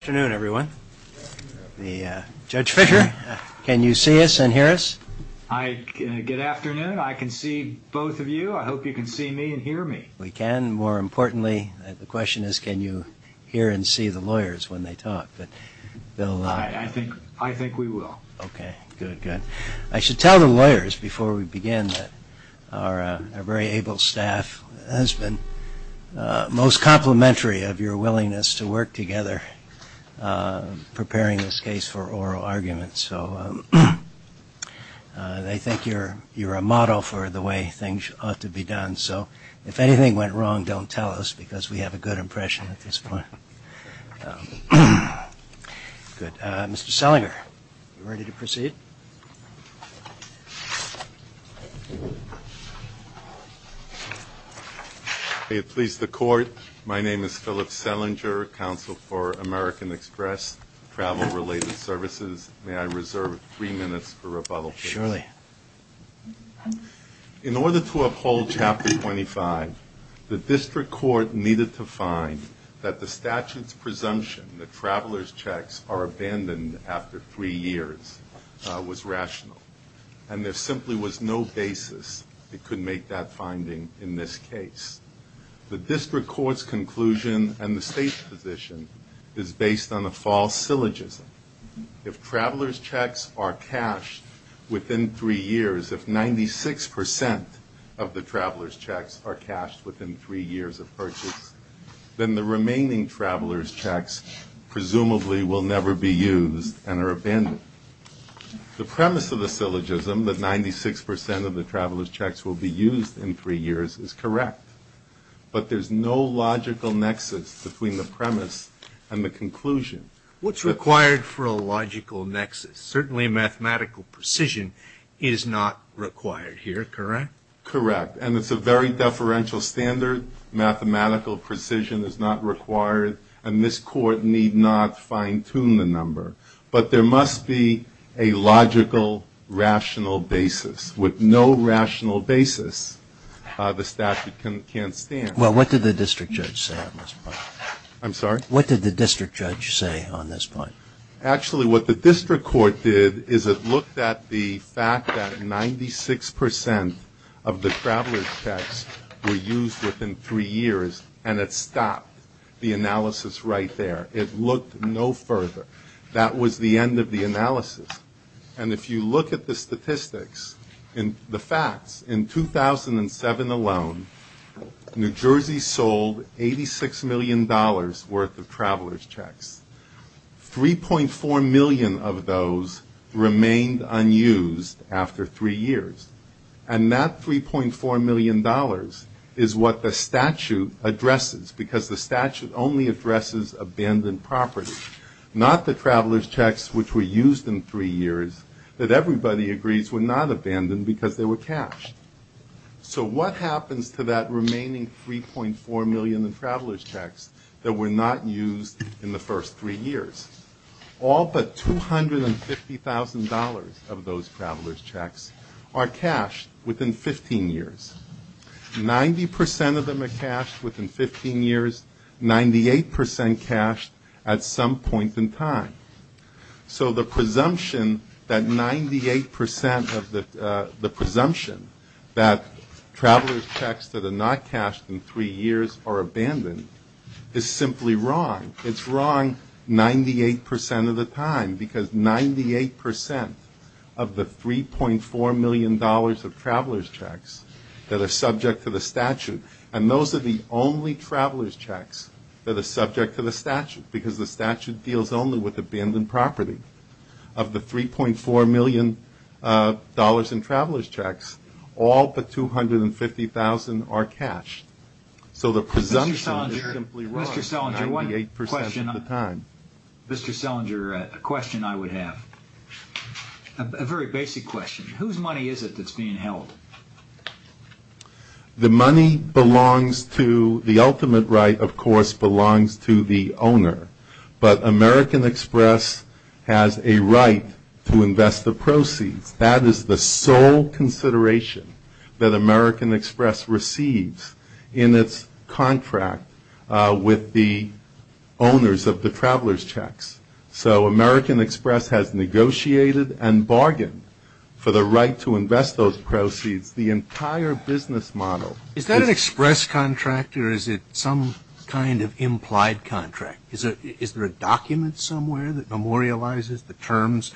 Good afternoon, everyone. Judge Fischer, can you see us and hear us? Good afternoon. I can see both of you. I hope you can see me and hear me. We can. More importantly, the question is can you hear and see the lawyers when they talk. I think we will. Okay, good, good. I should tell the lawyers before we begin that our very able staff has been most complimentary of your willingness to work together preparing this case for oral arguments. So they think you're a model for the way things ought to be done. So if anything went wrong, don't tell us because we have a good impression at this point. Good. Mr. Sellinger, are you ready to proceed? May it please the Court, my name is Philip Sellinger, Counsel for American Express Travel-Related Services. May I reserve three minutes for rebuttal, please? Surely. In order to uphold Chapter 25, the District Court needed to find that the statute's presumption that travelers' checks are abandoned after three years was rational, and there simply was no basis it could make that finding in this case. The District Court's conclusion and the State's position is based on a false syllogism. If travelers' checks are cashed within three years, if 96 percent of the travelers' checks are cashed within three years of purchase, then the remaining travelers' checks presumably will never be used and are abandoned. The premise of the syllogism, that 96 percent of the travelers' checks will be used in three years, is correct. But there's no logical nexus between the premise and the conclusion. What's required for a logical nexus? Certainly mathematical precision is not required here, correct? Correct. And it's a very deferential standard. Mathematical precision is not required, and this Court need not fine-tune the number. But there must be a logical, rational basis. With no rational basis, the statute can't stand. Well, what did the District Judge say on this point? I'm sorry? What did the District Judge say on this point? Actually, what the District Court did is it looked at the fact that 96 percent of the travelers' checks were used within three years, and it stopped the analysis right there. It looked no further. That was the end of the analysis. And if you look at the statistics, the facts, in 2007 alone, New Jersey sold $86 million worth of travelers' checks. 3.4 million of those remained unused after three years. And that $3.4 million is what the statute addresses, because the statute only addresses abandoned property, not the travelers' checks which were used in three years that everybody agrees were not abandoned because they were cashed. So what happens to that remaining $3.4 million in travelers' checks that were not used in the first three years? All but $250,000 of those travelers' checks are cashed within 15 years. Ninety percent of them are cashed within 15 years, 98 percent cashed at some point in time. So the presumption that 98 percent of the presumption that travelers' checks that are not cashed in three years are abandoned is simply wrong. It's wrong 98 percent of the time, because 98 percent of the $3.4 million of travelers' checks that are subject to the statute, and those are the only travelers' checks that are subject to the statute, because the statute deals only with abandoned property. Of the $3.4 million in travelers' checks, all but $250,000 are cashed. So the presumption is simply wrong 98 percent of the time. Mr. Selinger, a question I would have, a very basic question. Whose money is it that's being held? The money belongs to, the ultimate right, of course, belongs to the owner. But American Express has a right to invest the proceeds. That is the sole consideration that American Express receives in its contract with the owners of the travelers' checks. So American Express has negotiated and bargained for the right to invest those proceeds, the entire business model. Is that an Express contract or is it some kind of implied contract? Is there a document somewhere that memorializes the terms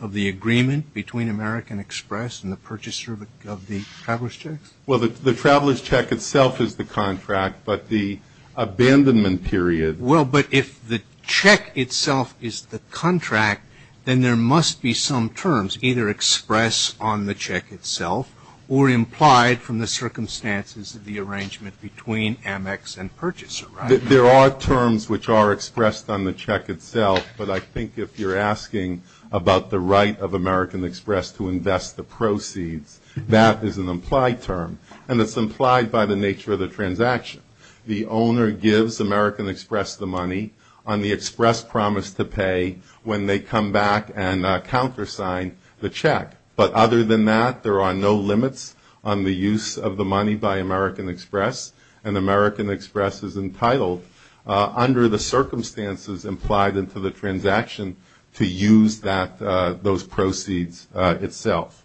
of the agreement between American Express and the purchaser of the travelers' checks? Well, the travelers' check itself is the contract, but the abandonment period Well, but if the check itself is the contract, then there must be some terms either expressed on the check itself or implied from the circumstances of the arrangement between Amex and purchaser, right? There are terms which are expressed on the check itself, but I think if you're asking about the right of American Express to invest the proceeds, that is an implied term. And it's implied by the nature of the transaction. The owner gives American Express the money on the express promise to pay when they come back and countersign the check. But other than that, there are no limits on the use of the money by American Express, and American Express is entitled under the circumstances implied into the transaction to use those proceeds itself.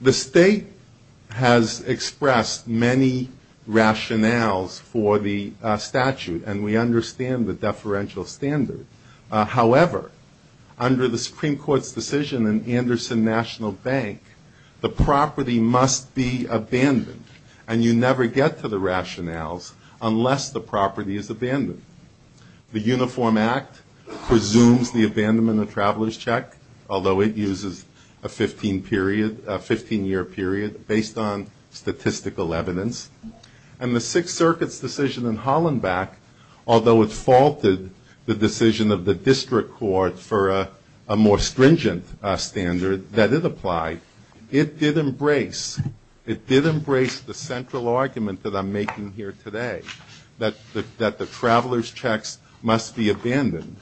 The state has expressed many rationales for the statute, and we understand the deferential standard. However, under the Supreme Court's decision in Anderson National Bank, the property must be abandoned, and you never get to the rationales unless the property is abandoned. The Uniform Act presumes the abandonment of travelers' check, although it uses a 15-year period based on statistical evidence. And the Sixth Circuit's decision in Hollenbeck, although it faulted the decision of the district court for a more stringent standard that it applied, it did embrace the central argument that I'm making here today, that the travelers' checks must be abandoned.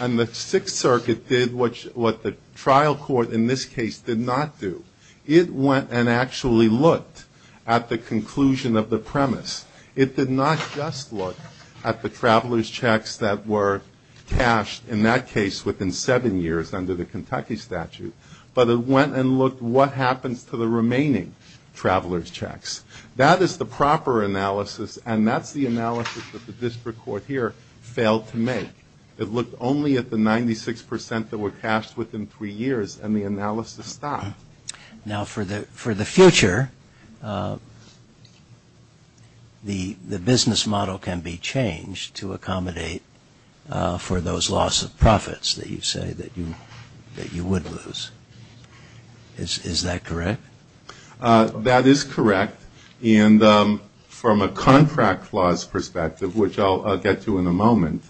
And the Sixth Circuit did what the trial court in this case did not do. It went and actually looked at the conclusion of the premise. It did not just look at the travelers' checks that were cashed, in that case, within seven years under the Kentucky statute, but it went and looked what happens to the remaining travelers' checks. That is the proper analysis, and that's the analysis that the district court here failed to make. It looked only at the 96 percent that were cashed within three years, and the analysis stopped. Now, for the future, the business model can be changed to accommodate for those loss of profits that you say that you would lose. Is that correct? That is correct. And from a contract clause perspective, which I'll get to in a moment,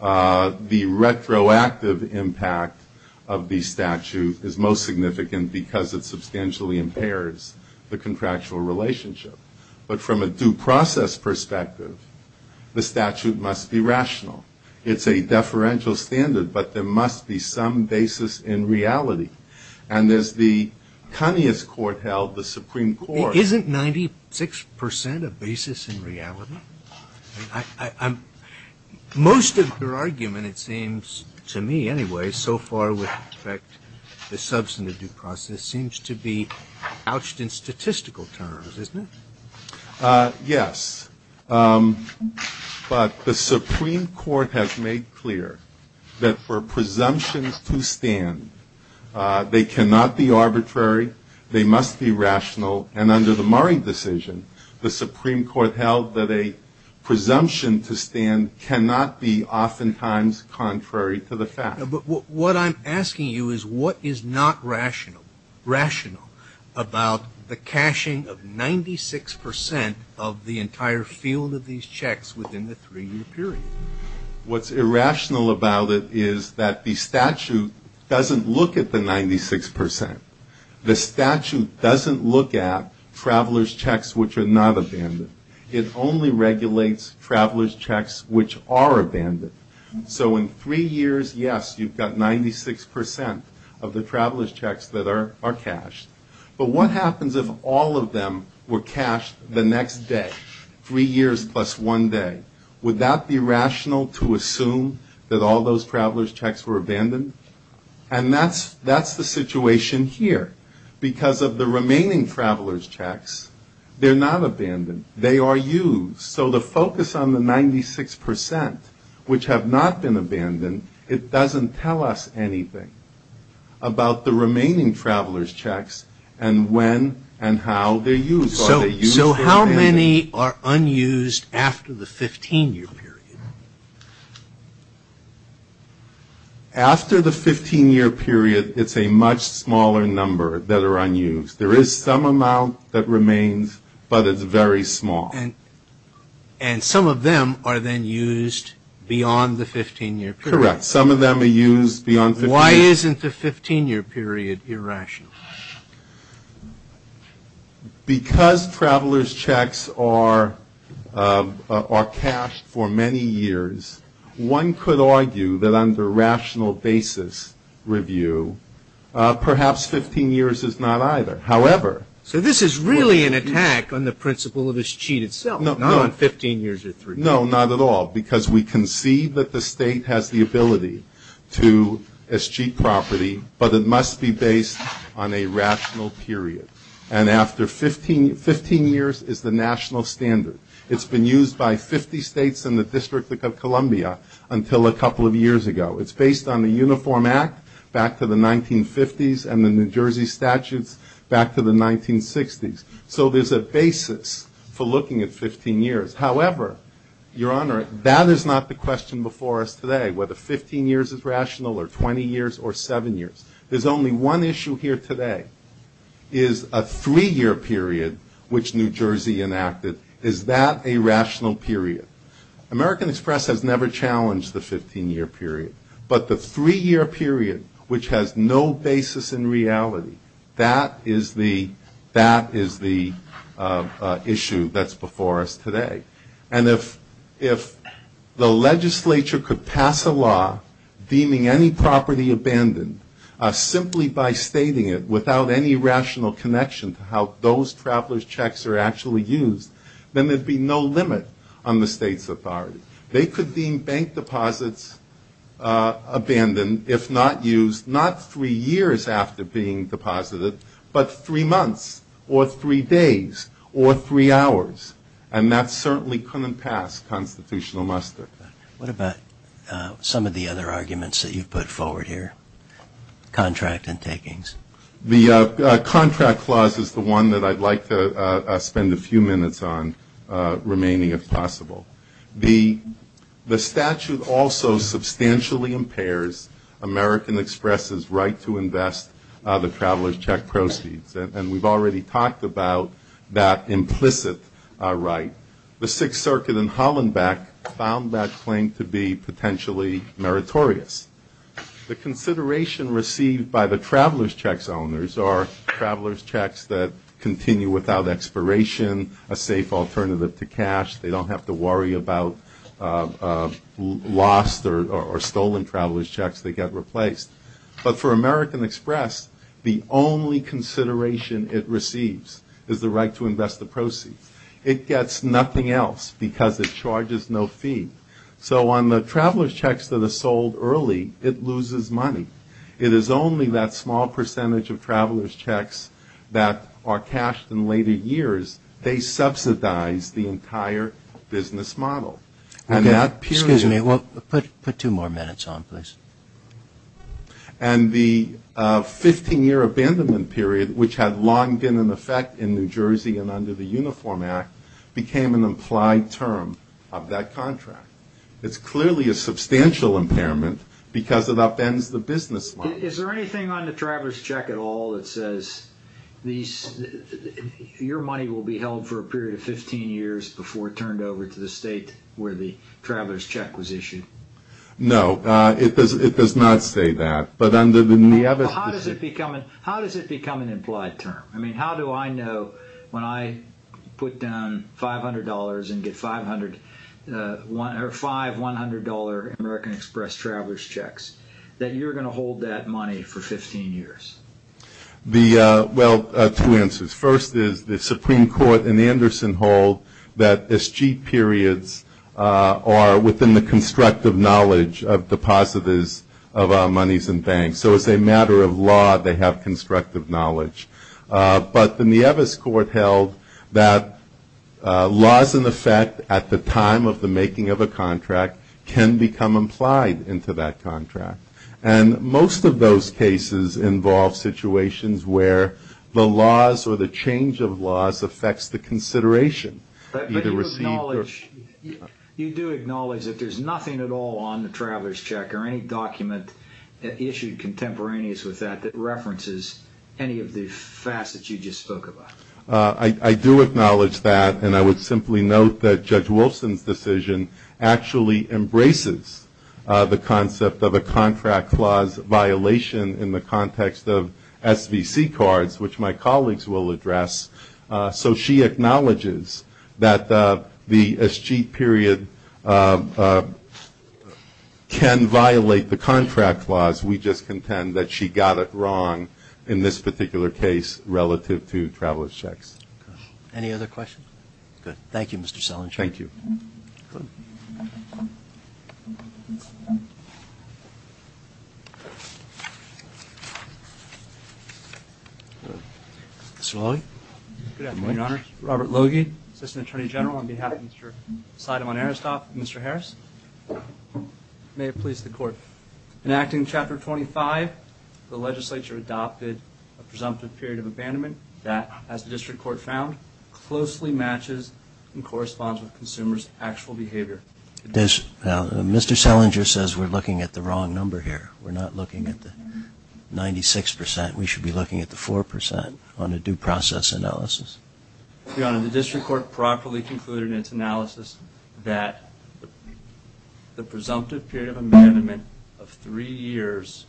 the retroactive impact of the statute is most significant because it substantially impairs the contractual relationship. But from a due process perspective, the statute must be rational. It's a deferential standard, but there must be some basis in reality. And as the Kanye's court held, the Supreme Court Isn't 96 percent a basis in reality? Most of your argument, it seems to me anyway, so far with respect to the substantive due process, seems to be ouched in statistical terms, isn't it? Yes. But the Supreme Court has made clear that for presumptions to stand, they cannot be arbitrary. They must be rational. And under the Murray decision, the Supreme Court held that a presumption to stand cannot be oftentimes contrary to the fact. But what I'm asking you is what is not rational? Rational about the cashing of 96 percent of the entire field of these checks within the three-year period. What's irrational about it is that the statute doesn't look at the 96 percent. The statute doesn't look at travelers' checks which are not abandoned. It only regulates travelers' checks which are abandoned. So in three years, yes, you've got 96 percent of the travelers' checks that are cashed. But what happens if all of them were cashed the next day? Three years plus one day. Would that be rational to assume that all those travelers' checks were abandoned? And that's the situation here. Because of the remaining travelers' checks, they're not abandoned. They are used. So the focus on the 96 percent which have not been abandoned, it doesn't tell us anything about the remaining travelers' checks and when and how they're used. So how many are unused after the 15-year period? After the 15-year period, it's a much smaller number that are unused. There is some amount that remains, but it's very small. And some of them are then used beyond the 15-year period. Correct. Some of them are used beyond the 15-year period. Why isn't the 15-year period irrational? Because travelers' checks are cashed for many years, one could argue that on the rational basis review, perhaps 15 years is not either. However, So this is really an attack on the principle of escheat itself, not on 15 years or three. No, not at all, because we can see that the state has the ability to escheat property, but it must be based on a rational period. And after 15 years is the national standard. It's been used by 50 states and the District of Columbia until a couple of years ago. It's based on the Uniform Act back to the 1950s and the New Jersey statutes back to the 1960s. So there's a basis for looking at 15 years. However, Your Honor, that is not the question before us today, whether 15 years is rational or 20 years or seven years. There's only one issue here today, is a three-year period which New Jersey enacted. Is that a rational period? American Express has never challenged the 15-year period, but the three-year period, which has no basis in reality, that is the issue that's before us today. And if the legislature could pass a law deeming any property abandoned simply by stating it without any rational connection to how those traveler's checks are actually used, then there'd be no limit on the state's authority. They could deem bank deposits abandoned if not used not three years after being deposited, but three months or three days or three hours. And that certainly couldn't pass constitutional muster. What about some of the other arguments that you've put forward here, contract and takings? The contract clause is the one that I'd like to spend a few minutes on remaining, if possible. The statute also substantially impairs American Express's right to invest the traveler's check proceeds, and we've already talked about that implicit right. The Sixth Circuit in Hollenbeck found that claim to be potentially meritorious. The consideration received by the traveler's checks owners are traveler's checks that continue without expiration, a safe alternative to cash, they don't have to worry about lost or stolen traveler's checks that get replaced. But for American Express, the only consideration it receives is the right to invest the proceeds. It gets nothing else because it charges no fee. So on the traveler's checks that are sold early, it loses money. It is only that small percentage of traveler's checks that are cashed in later years. They subsidize the entire business model. And that period of- Excuse me. Put two more minutes on, please. And the 15-year abandonment period, which had long been in effect in New Jersey and under the Uniform Act, became an implied term of that contract. It's clearly a substantial impairment because it upends the business model. Is there anything on the traveler's check at all that says your money will be held for a period of 15 years before it's turned over to the state where the traveler's check was issued? No. It does not say that. But under the- How does it become an implied term? I mean, how do I know when I put down $500 and get five $100 American Express traveler's checks that you're going to hold that money for 15 years? Well, two answers. The first is the Supreme Court in Anderson hold that escheat periods are within the constructive knowledge of depositors of our monies and banks. So as a matter of law, they have constructive knowledge. But the Nieves Court held that laws in effect at the time of the making of a contract can become implied into that contract. And most of those cases involve situations where the laws or the change of laws affects the consideration. But you do acknowledge that there's nothing at all on the traveler's check or any document issued contemporaneous with that that references any of the facets you just spoke about. I do acknowledge that. And I would simply note that Judge Wilson's decision actually embraces the concept of a contract clause violation in the context of SVC cards, which my colleagues will address. So she acknowledges that the escheat period can violate the contract clause. We just contend that she got it wrong in this particular case relative to traveler's checks. Any other questions? Good. Thank you, Mr. Selinger. Thank you. Good. Good afternoon, Your Honor. Robert Logie, Assistant Attorney General on behalf of Mr. Seidemann-Aristot, Mr. Harris. May it please the Court. In Acting Chapter 25, the legislature adopted a presumptive period of abandonment that, as the District Court found, closely matches and corresponds with consumers' actual behavior. Mr. Selinger says we're looking at the wrong number here. We're not looking at the 96%. We should be looking at the 4% on a due process analysis. Your Honor, the District Court properly concluded in its analysis that the presumptive period of abandonment of three years,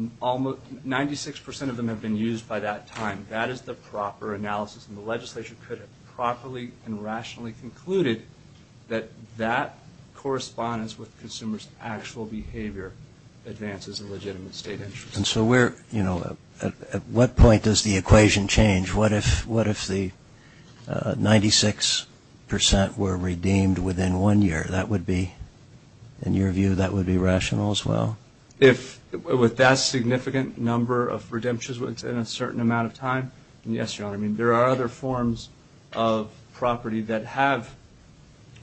96% of them have been used by that time. That is the proper analysis, and the legislature could have properly and rationally concluded that that correspondence with consumers' actual behavior advances a legitimate state interest. And so where, you know, at what point does the equation change? What if the 96% were redeemed within one year? That would be, in your view, that would be rational as well? With that significant number of redemptions within a certain amount of time? Yes, Your Honor. I mean, there are other forms of property that have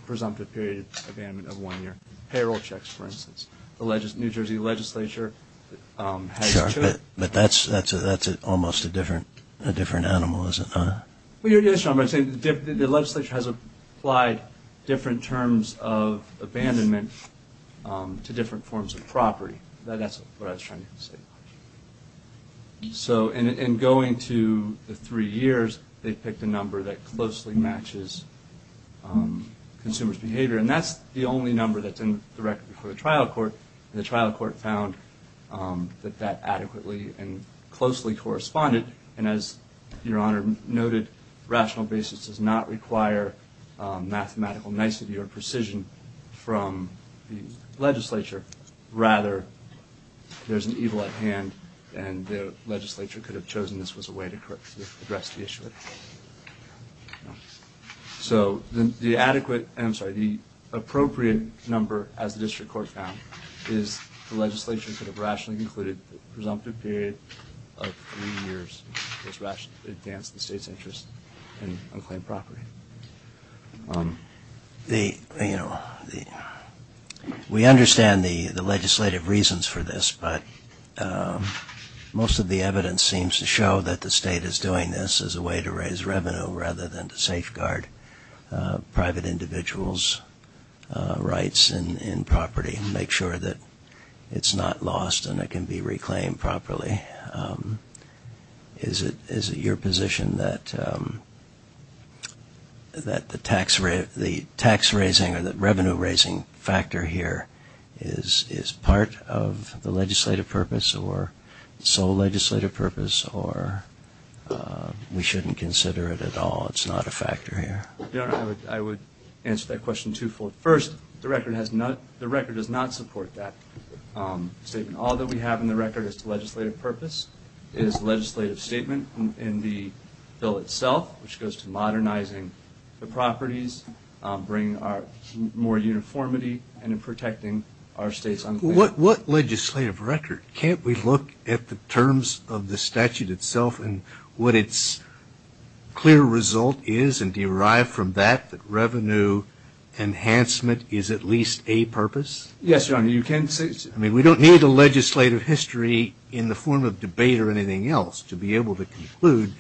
presumptive period of abandonment of one year. Payroll checks, for instance. The New Jersey legislature has two. But that's almost a different animal, isn't it? Yes, Your Honor. The legislature has applied different terms of abandonment to different forms of property. That's what I was trying to say. So in going to the three years, they picked a number that closely matches consumers' behavior. And that's the only number that's in the record for the trial court. And the trial court found that that adequately and closely corresponded. And as Your Honor noted, rational basis does not require mathematical nicety or precision from the legislature. Rather, there's an evil at hand, and the legislature could have chosen this was a way to address the issue. So the appropriate number, as the district court found, is the legislature could have rationally concluded the presumptive period of three years was rational to advance the state's interest in unclaimed property. We understand the legislative reasons for this, but most of the evidence seems to show that the state is doing this as a way to raise revenue rather than to safeguard private individuals' rights in property and make sure that it's not lost and it can be reclaimed properly. Is it your position that the tax raising or the revenue raising factor here is part of the legislative purpose or sole legislative purpose, or we shouldn't consider it at all, it's not a factor here? Your Honor, I would answer that question twofold. First, the record does not support that statement. All that we have in the record as to legislative purpose is the legislative statement in the bill itself, which goes to modernizing the properties, bringing more uniformity, and protecting our state's unclaimed property. What legislative record? Can't we look at the terms of the statute itself and what its clear result is and derive from that that revenue enhancement is at least a purpose? Yes, Your Honor, you can. I mean, we don't need a legislative history in the form of debate or anything else to be able to conclude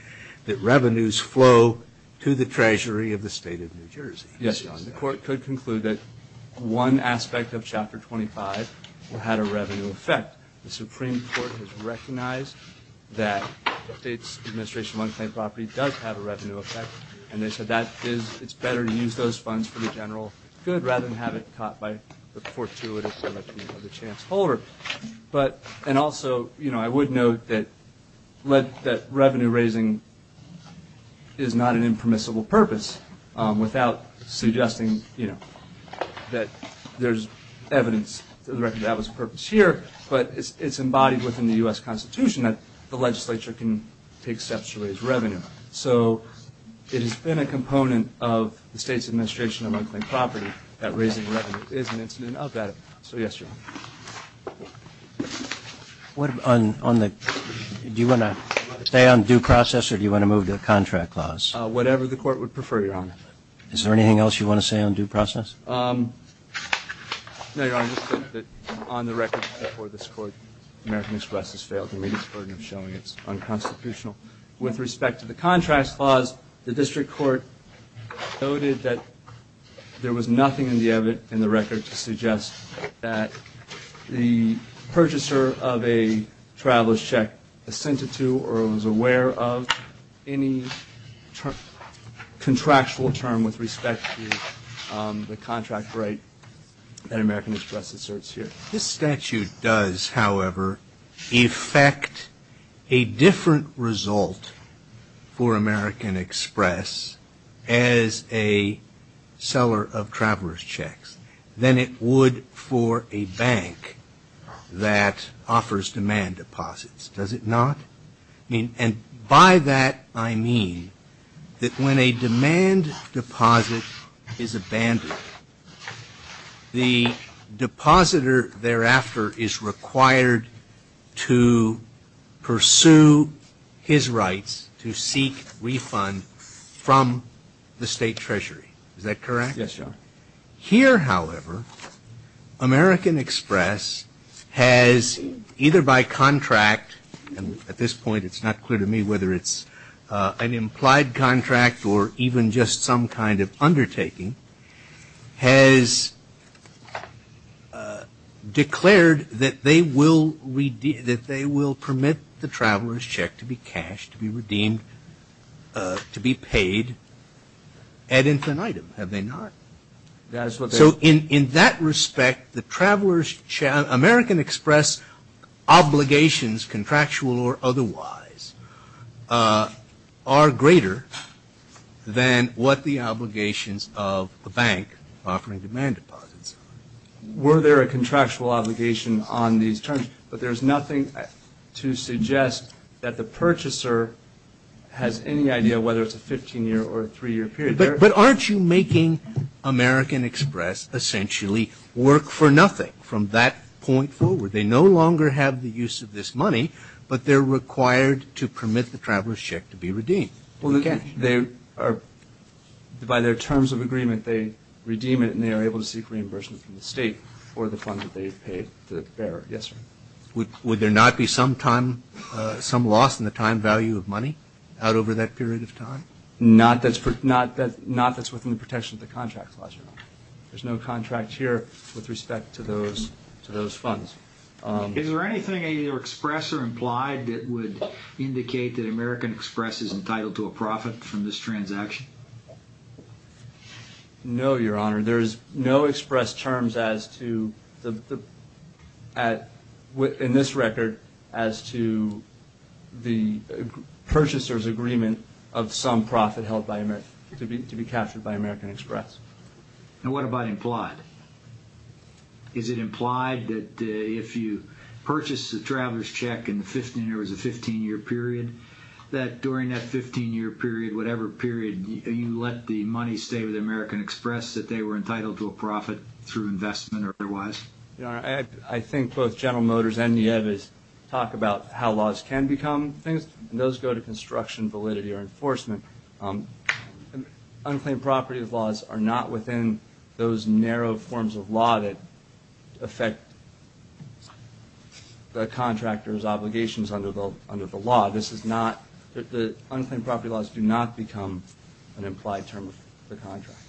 that revenues flow to the treasury of the state of New Jersey. Yes, Your Honor, the court could conclude that one aspect of Chapter 25 had a revenue effect. The Supreme Court has recognized that the state's administration of unclaimed property does have a revenue effect, and they said that it's better to use those funds for the general good rather than have it caught by the fortuitous election of the chance holder. And also, I would note that revenue raising is not an impermissible purpose without suggesting that there's evidence to the record that that was the purpose here, but it's embodied within the U.S. Constitution that the legislature can take steps to raise revenue. So it has been a component of the state's administration of unclaimed property that raising revenue is an incident of that. So yes, Your Honor. Do you want to stay on due process or do you want to move to the contract clause? Whatever the court would prefer, Your Honor. Is there anything else you want to say on due process? No, Your Honor, just that on the record before this Court, American Express has failed to meet its burden of showing its unconstitutional with respect to the contract clause. The district court noted that there was nothing in the record to suggest that the purchaser of a traveler's check assented to or was aware of any contractual term with respect to the contract right that American Express asserts here. This statute does, however, effect a different result for American Express as a seller of traveler's checks than it would for a bank that offers demand deposits, does it not? And by that I mean that when a demand deposit is abandoned, the depositor thereafter is required to pursue his rights to seek refund from the state treasury. Is that correct? Yes, Your Honor. Here, however, American Express has either by contract, and at this point it's not clear to me whether it's an implied contract or even just some kind of undertaking, has declared that they will permit the traveler's check to be cashed, to be redeemed, to be paid ad infinitum, have they not? So in that respect, American Express obligations, contractual or otherwise, are greater than what the obligations of the bank offering demand deposits are. Were there a contractual obligation on these terms? But there's nothing to suggest that the purchaser has any idea whether it's a 15-year or a 3-year period. But aren't you making American Express essentially work for nothing from that point forward? They no longer have the use of this money, but they're required to permit the traveler's check to be redeemed. Well, again, they are, by their terms of agreement, they redeem it and they are able to seek reimbursement from the state for the fund that they've paid the bearer. Yes, sir. Would there not be some time, some loss in the time value of money out over that period of time? Not that's within the protection of the contract clause. There's no contract here with respect to those funds. Is there anything in your express or implied that would indicate that American Express is entitled to a profit from this transaction? No, Your Honor. There is no express terms in this record as to the purchaser's agreement of some profit to be captured by American Express. And what about implied? Is it implied that if you purchase the traveler's check and there was a 15-year period, that during that 15-year period, whatever period, you let the money stay with American Express, that they were entitled to a profit through investment or otherwise? Your Honor, I think both General Motors and NIEVA talk about how laws can become things, and those go to construction validity or enforcement. Unclaimed property laws are not within those narrow forms of law that affect the contractor's obligations under the law. The unclaimed property laws do not become an implied term of the contract.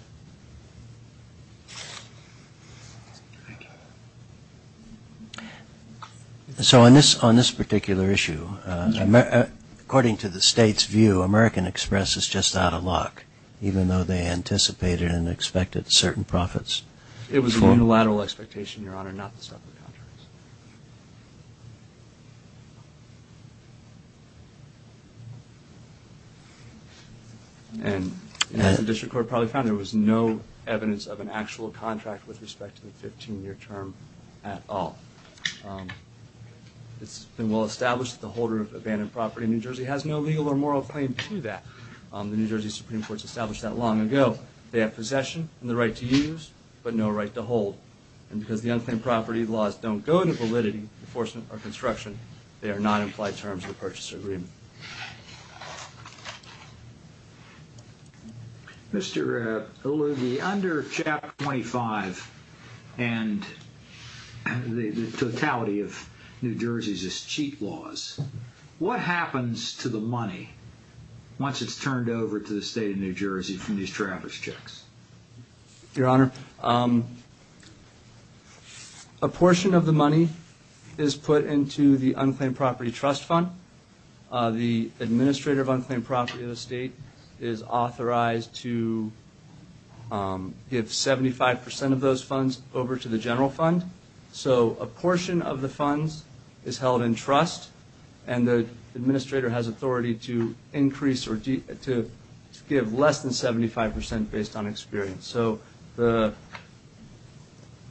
So on this particular issue, according to the State's view, American Express is just out of luck, even though they anticipated and expected certain profits. It was a unilateral expectation, Your Honor, not to stop the contracts. And as the district court probably found, there was no evidence of an actual contract with respect to the 15-year term at all. It's been well established that the holder of abandoned property in New Jersey has no legal or moral claim to that. The New Jersey Supreme Court established that long ago. They have possession and the right to use, but no right to hold. And because the unclaimed property laws don't go to validity, enforcement, or construction, they are not implied terms of the purchase agreement. Mr. Allugi, under Chapter 25 and the totality of New Jersey's cheat laws, what happens to the money once it's turned over to the state of New Jersey from these traverse checks? Your Honor, a portion of the money is put into the unclaimed property trust fund. The administrator of unclaimed property of the state is authorized to give 75 percent of those funds over to the general fund. So a portion of the funds is held in trust, and the administrator has authority to increase or to give less than 75 percent based on experience. So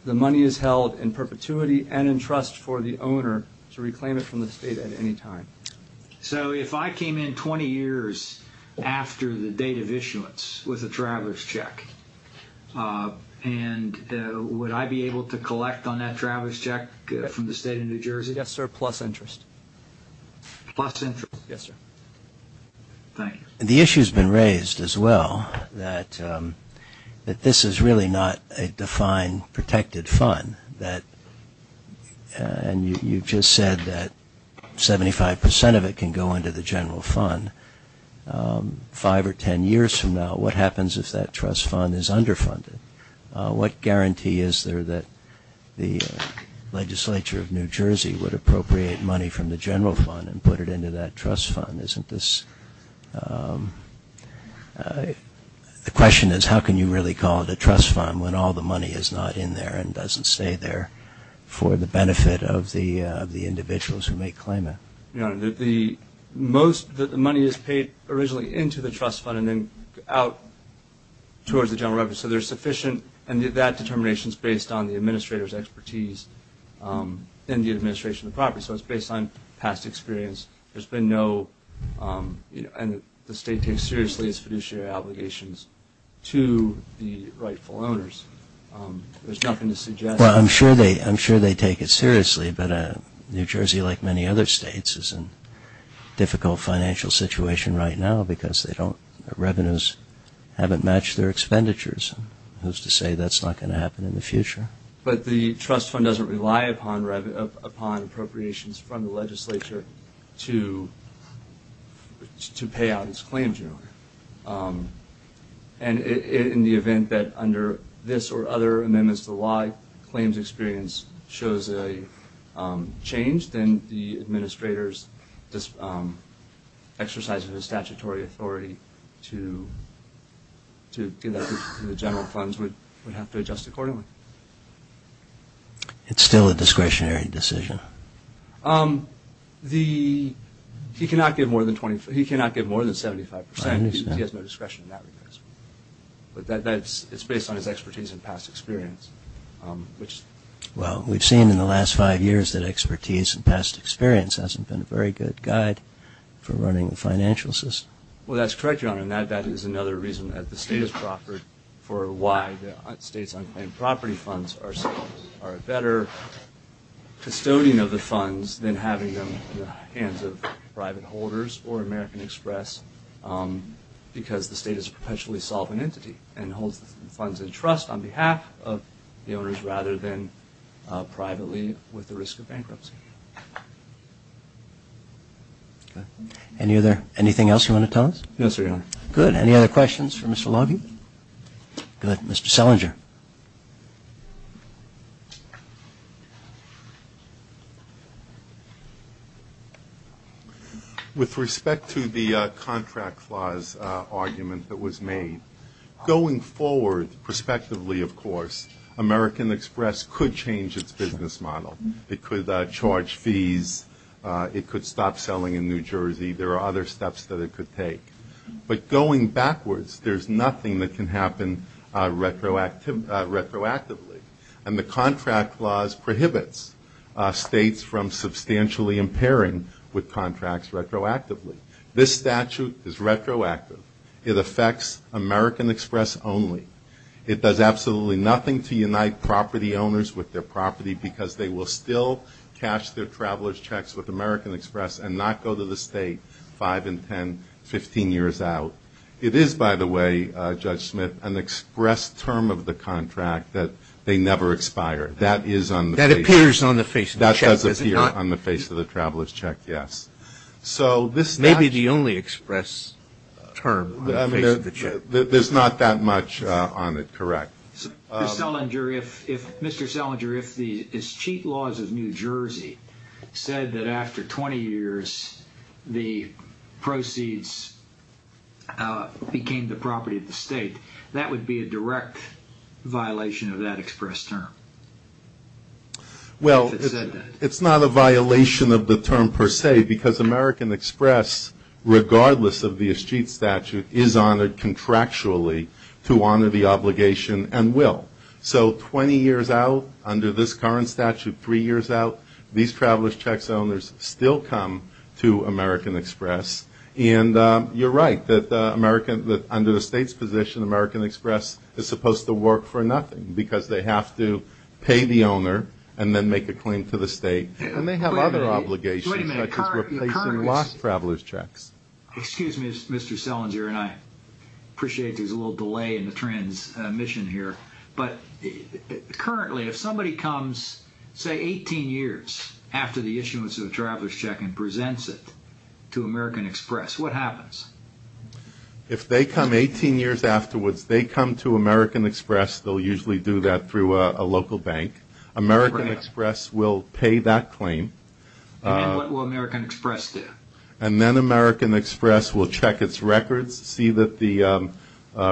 the money is held in perpetuity and in trust for the owner to reclaim it from the state at any time. So if I came in 20 years after the date of issuance with a traverse check, and would I be able to collect on that traverse check from the state of New Jersey? Yes, sir, plus interest. Plus interest? Yes, sir. Thank you. The issue has been raised as well that this is really not a defined protected fund. And you just said that 75 percent of it can go into the general fund. Five or ten years from now, what happens if that trust fund is underfunded? What guarantee is there that the legislature of New Jersey would appropriate money from the general fund and put it into that trust fund? Isn't this the question is how can you really call it a trust fund when all the money is not in there and doesn't stay there for the benefit of the individuals who may claim it? Your Honor, the most that the money is paid originally into the trust fund and then out towards the general revenue. So there's sufficient, and that determination is based on the administrator's expertise and the administration of the property. So it's based on past experience. There's been no, and the state takes seriously its fiduciary obligations to the rightful owners. There's nothing to suggest. Well, I'm sure they take it seriously, but New Jersey, like many other states, is in a difficult financial situation right now because their revenues haven't matched their expenditures. Who's to say that's not going to happen in the future? But the trust fund doesn't rely upon appropriations from the legislature to pay out its claims, Your Honor. And in the event that under this or other amendments to the law, claims experience shows a change, then the administrator's exercise of his statutory authority to give that to the general funds would have to adjust accordingly. It's still a discretionary decision? He cannot give more than 75%. He has no discretion in that regard. It's based on his expertise and past experience. Well, we've seen in the last five years that expertise and past experience hasn't been a very good guide for running the financial system. Well, that's correct, Your Honor, and that is another reason that the state has proffered for why the state's unclaimed property funds are a better custodian of the funds than having them in the hands of private holders or American Express because the state is a perpetually solvent entity and holds the funds in trust on behalf of the owners rather than privately with the risk of bankruptcy. Anything else you want to tell us? Yes, sir, Your Honor. Good. Any other questions for Mr. Logie? Good. Mr. Selinger. Go ahead. With respect to the contract clause argument that was made, going forward, prospectively, of course, American Express could change its business model. It could charge fees. It could stop selling in New Jersey. There are other steps that it could take. But going backwards, there's nothing that can happen retroactively, and the contract clause prohibits states from substantially impairing with contracts retroactively. This statute is retroactive. It affects American Express only. It does absolutely nothing to unite property owners with their property because they will still cash their traveler's checks with American Express and not go to the state five and ten, 15 years out. It is, by the way, Judge Smith, an express term of the contract that they never expire. That is on the face of the check. That appears on the face of the check, does it not? That does appear on the face of the traveler's check, yes. Maybe the only express term on the face of the check. There's not that much on it, correct. Mr. Selinger, if the escheat laws of New Jersey said that after 20 years, the proceeds became the property of the state, that would be a direct violation of that express term. Well, it's not a violation of the term per se because American Express, regardless of the escheat statute, is honored contractually to honor the obligation and will. So 20 years out under this current statute, three years out, these traveler's checks owners still come to American Express. And you're right that under the state's position, American Express is supposed to work for nothing because they have to pay the owner and then make a claim to the state. And they have other obligations such as replacing lost traveler's checks. Excuse me, Mr. Selinger, and I appreciate there's a little delay in the transmission here. But currently, if somebody comes, say, 18 years after the issuance of a traveler's check and presents it to American Express, what happens? If they come 18 years afterwards, they come to American Express. They'll usually do that through a local bank. American Express will pay that claim. And then what will American Express do? And then American Express will check its records, see that the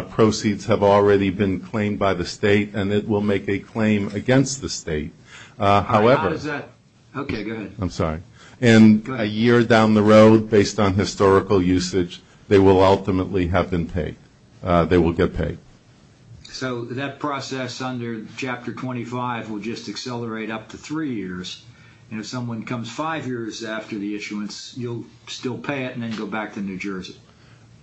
proceeds have already been claimed by the state, and it will make a claim against the state. How does that? Okay, go ahead. I'm sorry. And a year down the road, based on historical usage, they will ultimately have been paid. They will get paid. So that process under Chapter 25 will just accelerate up to three years. And if someone comes five years after the issuance, you'll still pay it and then go back to New Jersey.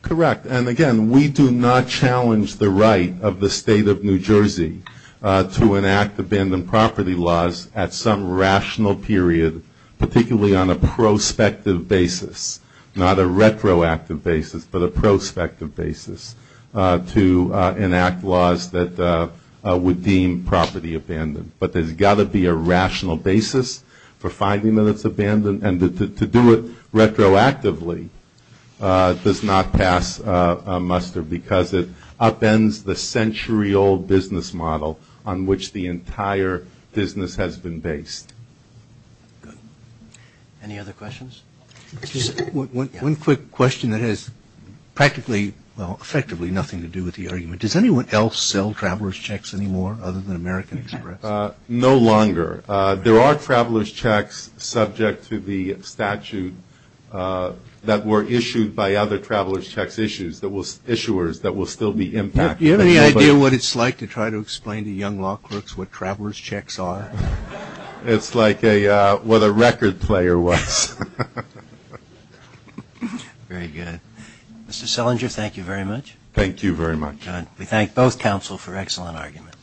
Correct. And, again, we do not challenge the right of the state of New Jersey to enact abandoned property laws at some rational period, particularly on a prospective basis, not a retroactive basis, but a prospective basis to enact laws that would deem property abandoned. But there's got to be a rational basis for finding that it's abandoned. And to do it retroactively does not pass a muster because it upends the century-old business model on which the entire business has been based. Good. Any other questions? One quick question that has practically, well, effectively nothing to do with the argument. Does anyone else sell traveler's checks anymore other than American Express? No longer. There are traveler's checks subject to the statute that were issued by other traveler's checks issuers that will still be impacted. Do you have any idea what it's like to try to explain to young law clerks what traveler's checks are? It's like what a record player was. Very good. Mr. Selinger, thank you very much. Thank you very much. Good. We thank both counsel for excellent arguments.